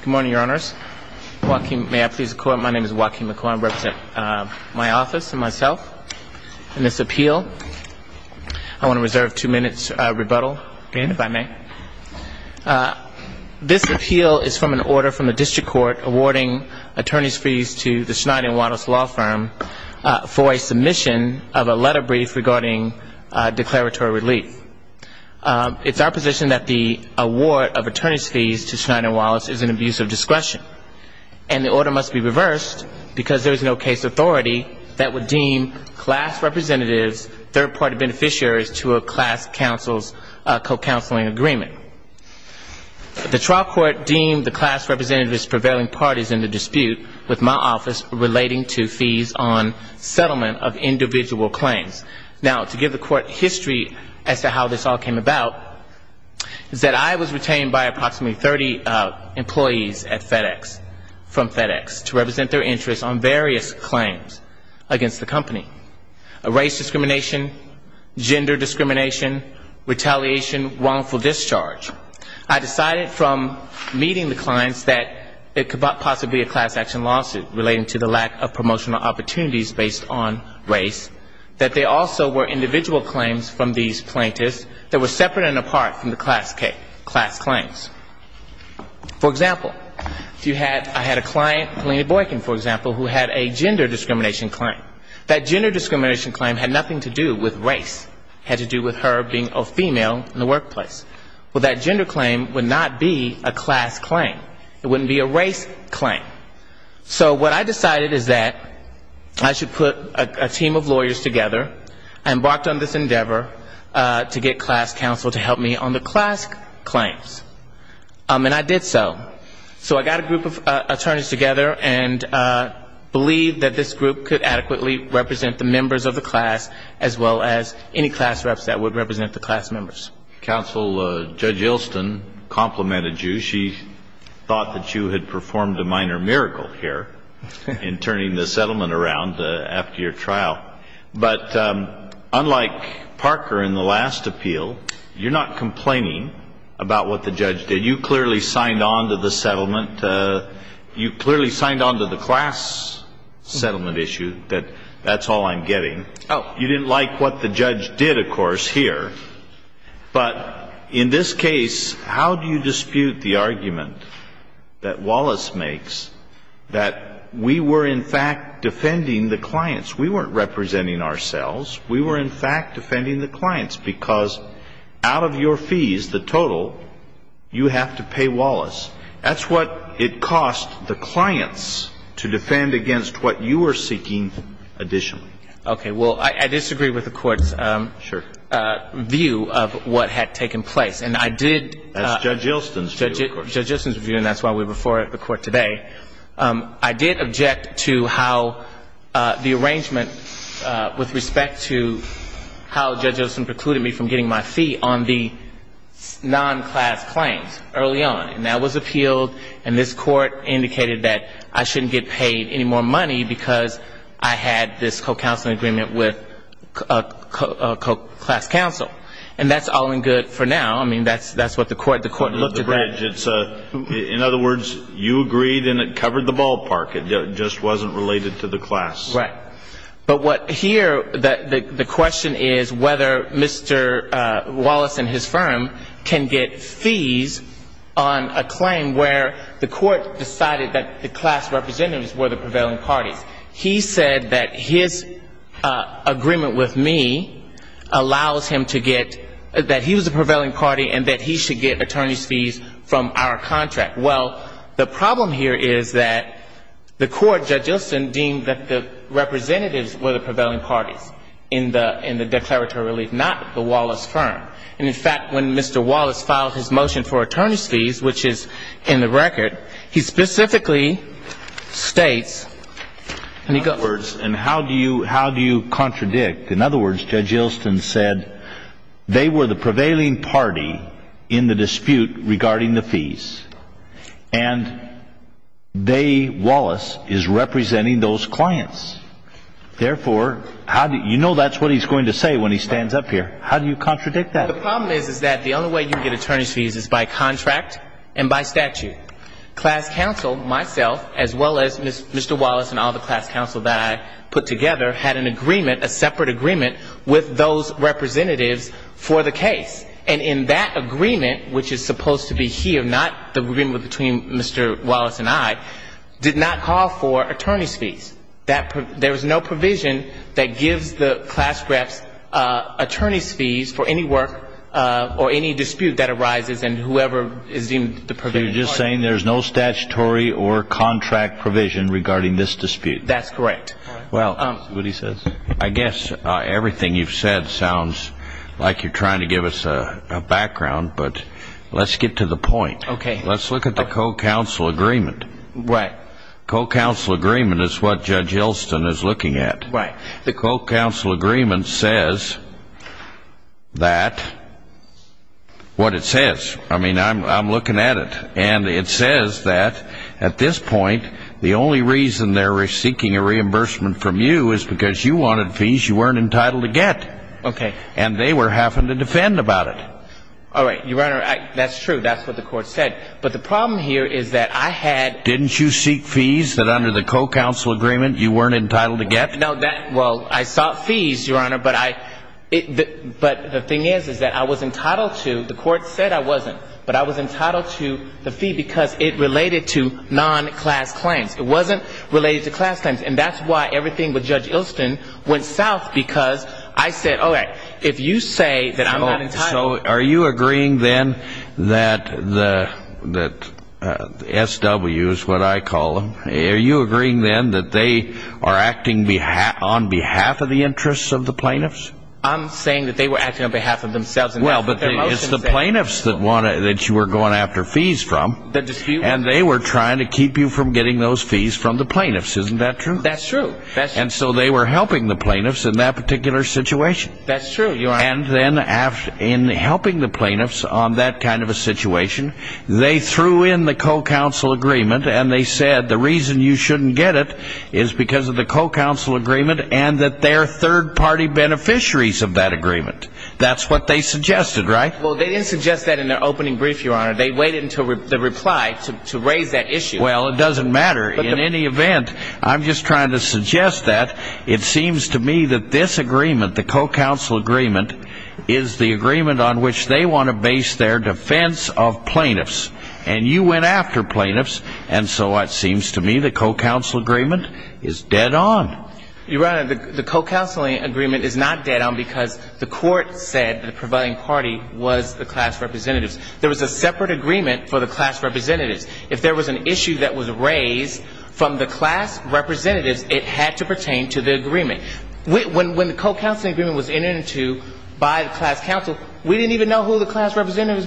Good morning, Your Honors. My name is Waukeen McCoy. I represent my office and myself in this appeal. I want to reserve two minutes of rebuttal, if I may. This appeal is from an order from the district court awarding attorney's fees to the Schneider & Wallace law firm for a submission of a letter brief regarding declaratory relief. It's our position that the award of attorney's fees to Schneider & Wallace is an abuse of discretion. And the order must be reversed because there is no case authority that would deem class representatives, third party beneficiaries to a class counsel's co-counseling agreement. The trial court deemed the class representatives prevailing parties in the dispute with my office relating to fees on settlement of individual claims. Now, to give the court history as to how this all came about, is that I was retained by approximately 30 employees at FedEx, from FedEx, to represent their interests on various claims against the company. Race discrimination, gender discrimination, retaliation, wrongful discharge. I decided from meeting the claims from these plaintiffs that were separate and apart from the class claims. For example, if you had, I had a client, Paulina Boykin, for example, who had a gender discrimination claim. That gender discrimination claim had nothing to do with race. It had to do with her being a female in the workplace. Well, that gender claim would not be a class claim. It wouldn't be a race claim. So what I decided is that I should put a team of lawyers together, I embarked on this endeavor to get class counsel to help me on the class claims. And I did so. So I got a group of attorneys together and believed that this group could adequately represent the members of the class as well as any class reps that would represent the class members. Counsel, Judge Ilston complimented you. She thought that you had performed a minor miracle here in turning the settlement around after your trial. But I believe that unlike Parker in the last appeal, you're not complaining about what the judge did. You clearly signed on to the settlement. You clearly signed on to the class settlement issue, that that's all I'm getting. You didn't like what the judge did, of course, here. But in this case, how do you dispute the argument that Wallace makes that we were, in fact, defending the clients? We weren't representing ourselves. We were representing the clients. We were, in fact, defending the clients because out of your fees, the total, you have to pay Wallace. That's what it cost the clients to defend against what you were seeking additionally. Okay. Well, I disagree with the Court's view of what had taken place. And I did... That's Judge Ilston's view, of course. Judge Ilston's view, and that's why we're before the Court today. I did object to how the arrangement with Judge Ilston precluded me from getting my fee on the non-class claims early on. And that was appealed, and this Court indicated that I shouldn't get paid any more money because I had this co-counseling agreement with a class counsel. And that's all in good for now. I mean, that's what the Court looked at. For the bridge. In other words, you agreed and it covered the ballpark. It just wasn't related to the class. Right. But what here, the question is whether Mr. Wallace and his firm can get fees on a claim where the Court decided that the class representatives were the prevailing parties. He said that his agreement with me allows him to get, that he was the prevailing party and that he should get attorney's fees from our contract. Well, the problem here is that the Court, Judge Ilston, deemed that the representatives were the prevailing parties. And that's what he said. He said that they were the prevailing parties in the dispute regarding the fees. And they, Wallace, is representing those clients. Therefore, you know that's what he's going to say when he stands up here. How do you contradict that? The problem is, is that the only way you can get attorney's fees is by contract and by statute. Class counsel, myself, as well as Mr. Wallace and all the class counsel that I put together, had an agreement, a separate agreement, with those representatives for the case. And in that agreement, which is supposed to be here, not the agreement between Mr. Wallace and I, did not call for attorney's fees. There's no provision that gives the class reps attorney's fees for any work or any dispute that arises in whoever is deemed the prevailing party. You're just saying there's no statutory or contract provision regarding this dispute. That's correct. Well, I guess everything you've said sounds like you're trying to give us a background, but let's get to the point. Let's look at the co-counsel agreement. Right. Co-counsel agreement is what Judge Yelston is looking at. Right. The co-counsel agreement says that, what it says. I mean, I'm looking at it. And it says that at this point, the only reason they're seeking a reimbursement from you is because you wanted fees you weren't entitled to get. Okay. And they were having to defend about it. All right. Your Honor, that's true. That's what the thing is, is that I was entitled to, the court said I wasn't, but I was entitled to the fee because it related to non-class claims. It wasn't related to class claims. And that's why everything with Judge Yelston went south, because I said, okay, if you say that I'm not entitled to the fee, then I'm not entitled to the fee. That's what the court said. Okay. And then, what's the difference between the plaintiffs and the plaintiffs? I'm saying that they were acting on behalf of themselves. Well, but it's the plaintiffs that you were going after fees from. And they were trying to keep you from getting those fees from the plaintiffs. Isn't that true? That's true. And so they were helping the plaintiffs in that particular situation. That's true. And then, in helping the plaintiffs on that kind of a situation, they went to the co-counsel agreement and they said, the reason you shouldn't get it is because of the co-counsel agreement and that they're third-party beneficiaries of that agreement. That's what they suggested, right? Well, they didn't suggest that in their opening brief, Your Honor. They waited until the reply to raise that issue. Well, it doesn't matter. In any event, I'm just trying to suggest that it seems to me that this agreement, the co-counsel agreement, is the agreement on which they want to base their defense of plaintiffs. And you went after plaintiffs. And so it seems to me the co-counsel agreement is dead on. Your Honor, the co-counseling agreement is not dead on because the court said the prevailing party was the class representatives. There was a separate agreement for the class representatives. If there was an issue that was raised from the class representatives, it had to pertain to the agreement. When the co-counseling agreement was entered into by the class counsel, we didn't even know who the class representatives were.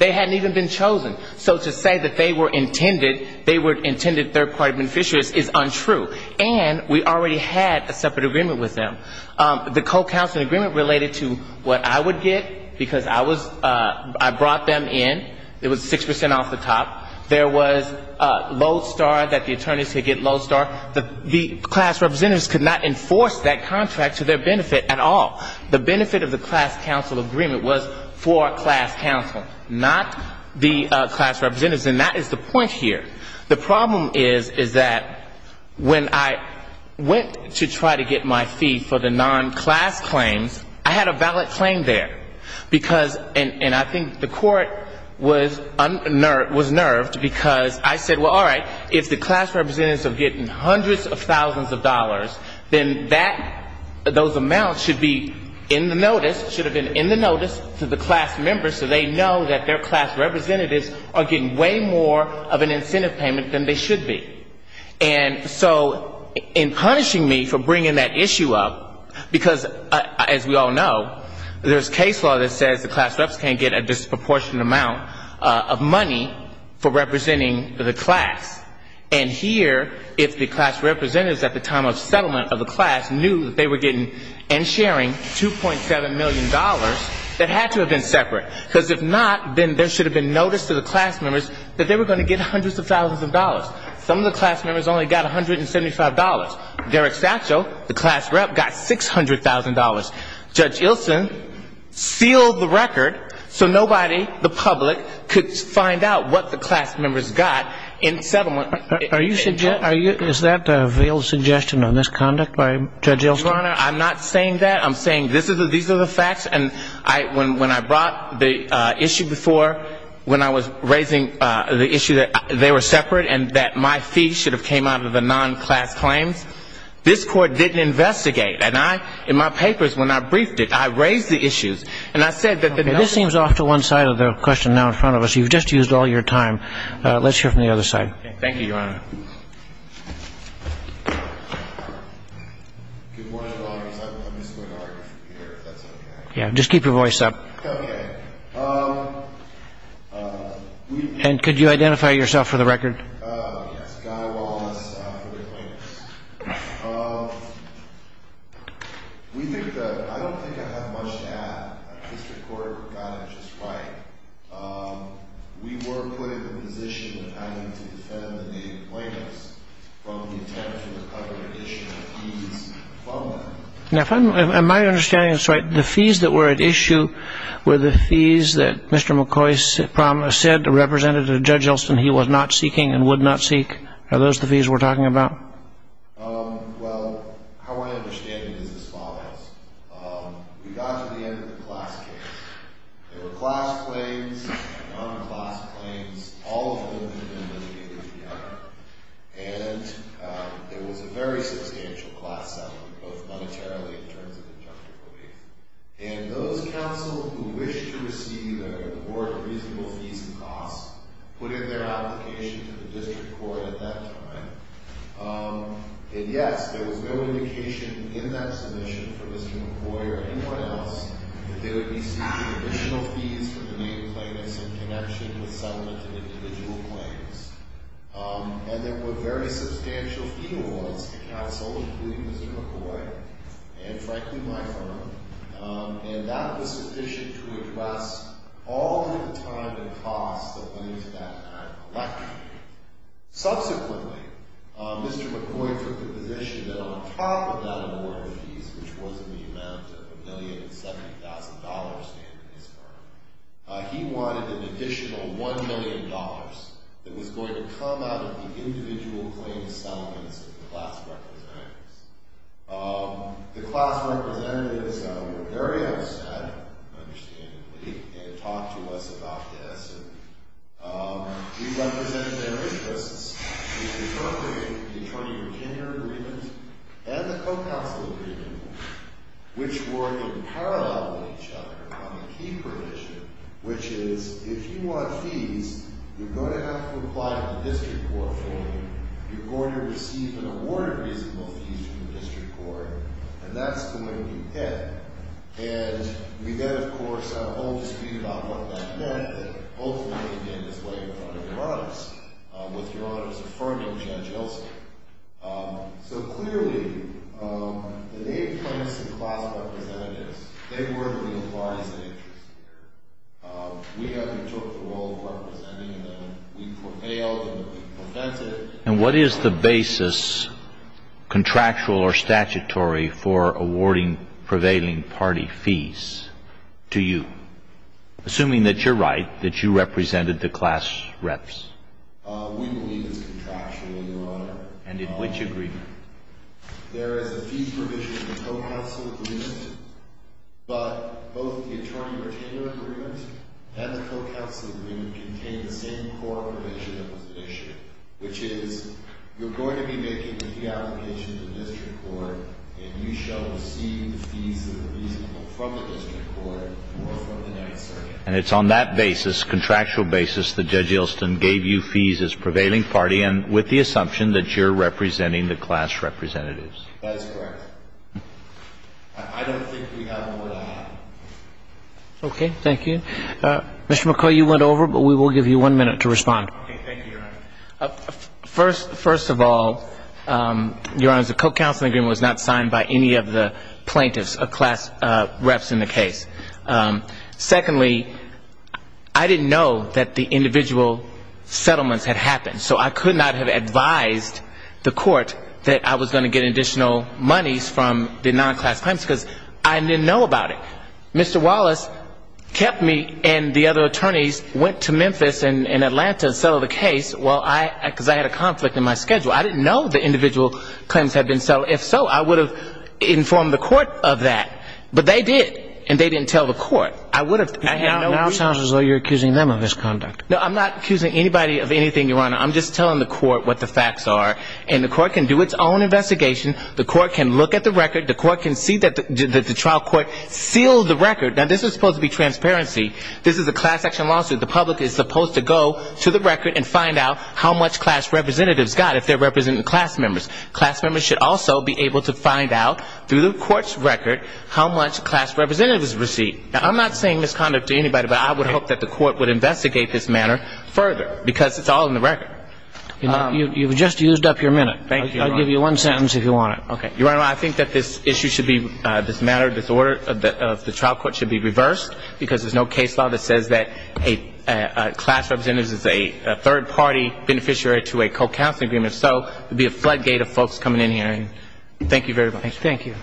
So the fact that they were intended third-party beneficiaries is untrue. And we already had a separate agreement with them. The co-counseling agreement related to what I would get, because I was, I brought them in. It was 6 percent off the top. There was Lodestar, that the attorneys could get Lodestar. The class representatives could not enforce that contract to their benefit at all. The benefit of the class counsel agreement was for class counsel, not the class representatives. And that is the point here. The problem is, is that when I went to try to get my fee for the non-class claims, I had a valid claim there. Because, and I think the court was unnerved, was nerved, because I said, well, all right, if the class representatives are getting hundreds of thousands of dollars, then that, those amounts should be in the notice, should have been in the notice to the class members, so they know that their class representatives are getting way more of an incentive payment than they should be. And so in punishing me for bringing that issue up, because as we all know, there's case law that says the class reps can't get a disproportionate amount of money for representing the class. And here, if the class representatives at the time of settlement of the class knew that they were getting and sharing $2.7 million, that had to have been separate. That had to have been separate. Because if not, then there should have been notice to the class members that they were going to get hundreds of thousands of dollars. Some of the class members only got $175. Derek Satchel, the class rep, got $600,000. Judge Ilson sealed the record so nobody, the public, could find out what the class members got in settlement. Is that a veiled suggestion on this conduct by Judge Ilson? No, Your Honor. I'm not saying that. I'm saying these are the facts. And when I brought the issue before, when I was raising the issue that they were separate and that my fee should have came out of the non-class claims, this Court didn't investigate. And I, in my papers, when I briefed it, I raised the issues. And I said that the numbers... I'm just going to argue for you here, if that's okay. Okay. Yes, Guy Wallace for the plaintiffs. We think that... I don't think I have much to add. The District Court got it just right. We were put in the position of having to defend the plaintiffs from the attempt to recover an issue of fees, from the attempt to recover an issue of fees. Now, if I'm... am I understanding this right, the fees that were at issue were the fees that Mr. McCoy said, or represented to Judge Ilson, he was not seeking and would not seek? Are those the fees we're talking about? Well, how I understand it is as follows. We got to the end of the class case. There were class claims and non-class claims. And it was a very substantial class settlement, both monetarily in terms of the injunctive relief. And those counsel who wished to receive a reward of reasonable fees and costs, put in their application to the District Court at that time. And yes, there was no indication in that submission for Mr. McCoy or anyone else that they would be seeking additional fees for the main plaintiffs in connection with settlement of individual claims. And there were very substantial fee awards to counsel, including Mr. McCoy and, frankly, my friend. And that was sufficient to address all of the time and costs that went into that act of election. Subsequently, Mr. McCoy took the position that on top of that award of fees, which was in the amount of $1,070,000 in his firm, he wanted an additional $1,000,000 that was going to come out of the individual claim settlements of the class representatives. The class representatives were very upstanding, understandably, and talked to us about this. And we represented their interests in appropriating the Attorney Virginia Agreement and the Co-Counsel Agreement, which were in parallel with each other on the key provision, which is, if you want fees, you're going to have to apply to the District Court for them. You're going to receive an award of reasonable fees from the District Court. And that's the way we did. And we then, of course, had a whole dispute about what that meant, and hopefully it came this way in front of Your Honors, with Your Honors affirming Judge Ilse. So clearly, the name claims to the class representatives, they were the real clients of interest here. We undertook the role of representing them. And what is the basis, contractual or statutory, for awarding prevailing party fees to you? Assuming that you're right, that you represented the class reps. We believe it's contractual, Your Honor. And in which agreement? There is a fee provision in the Co-Counsel Agreement, but both the Attorney-Retainer Agreement and the Co-Counsel Agreement contain the same core provision that was issued, which is, you're going to be making a fee application to the District Court, and you shall receive the fees that are reasonable from the District Court or from the Ninth Circuit. And it's on that basis, contractual basis, that Judge Ilsen gave you fees as prevailing party, and with the assumption that you're representing the class representatives. That is correct. I don't think we have more to add. Okay, thank you. Mr. McCoy, you went over, but we will give you one minute to respond. Okay, thank you, Your Honor. First of all, Your Honor, the Co-Counsel Agreement was not signed by any of the plaintiffs, class reps in the case. Secondly, I didn't know that the individual settlements had happened, so I could not have advised the court that I was going to get additional monies from the non-class plaintiffs, because I didn't know about it. Mr. Wallace kept me, and the other attorneys went to Memphis and Atlanta to settle the case, because I had a conflict in my schedule. I didn't know the individual claims had been settled. If so, I would have informed the court of that. But they did, and they didn't tell the court. Now it sounds as though you're accusing them of misconduct. No, I'm not accusing anybody of anything, Your Honor. I'm just telling the court what the facts are. And the court can do its own investigation. The court can look at the record. The court can see that the trial court sealed the record. Now this is supposed to be transparency. This is a class action lawsuit. The public is supposed to go to the record and find out how much class representatives got, if they're representing class members. Class members should also be able to find out, through the court's record, how much class representatives received. Now I'm not saying misconduct to anybody, but I would hope that the court would investigate this matter further, because it's all in the record. You've just used up your minute. I'll give you one sentence if you want it. Your Honor, I think that this issue should be, this matter of the trial court should be reversed, because there's no case law that says that a class representative is a third-party beneficiary to a co-counseling agreement. So it would be a floodgate of folks coming in here. And thank you very much. Thank you.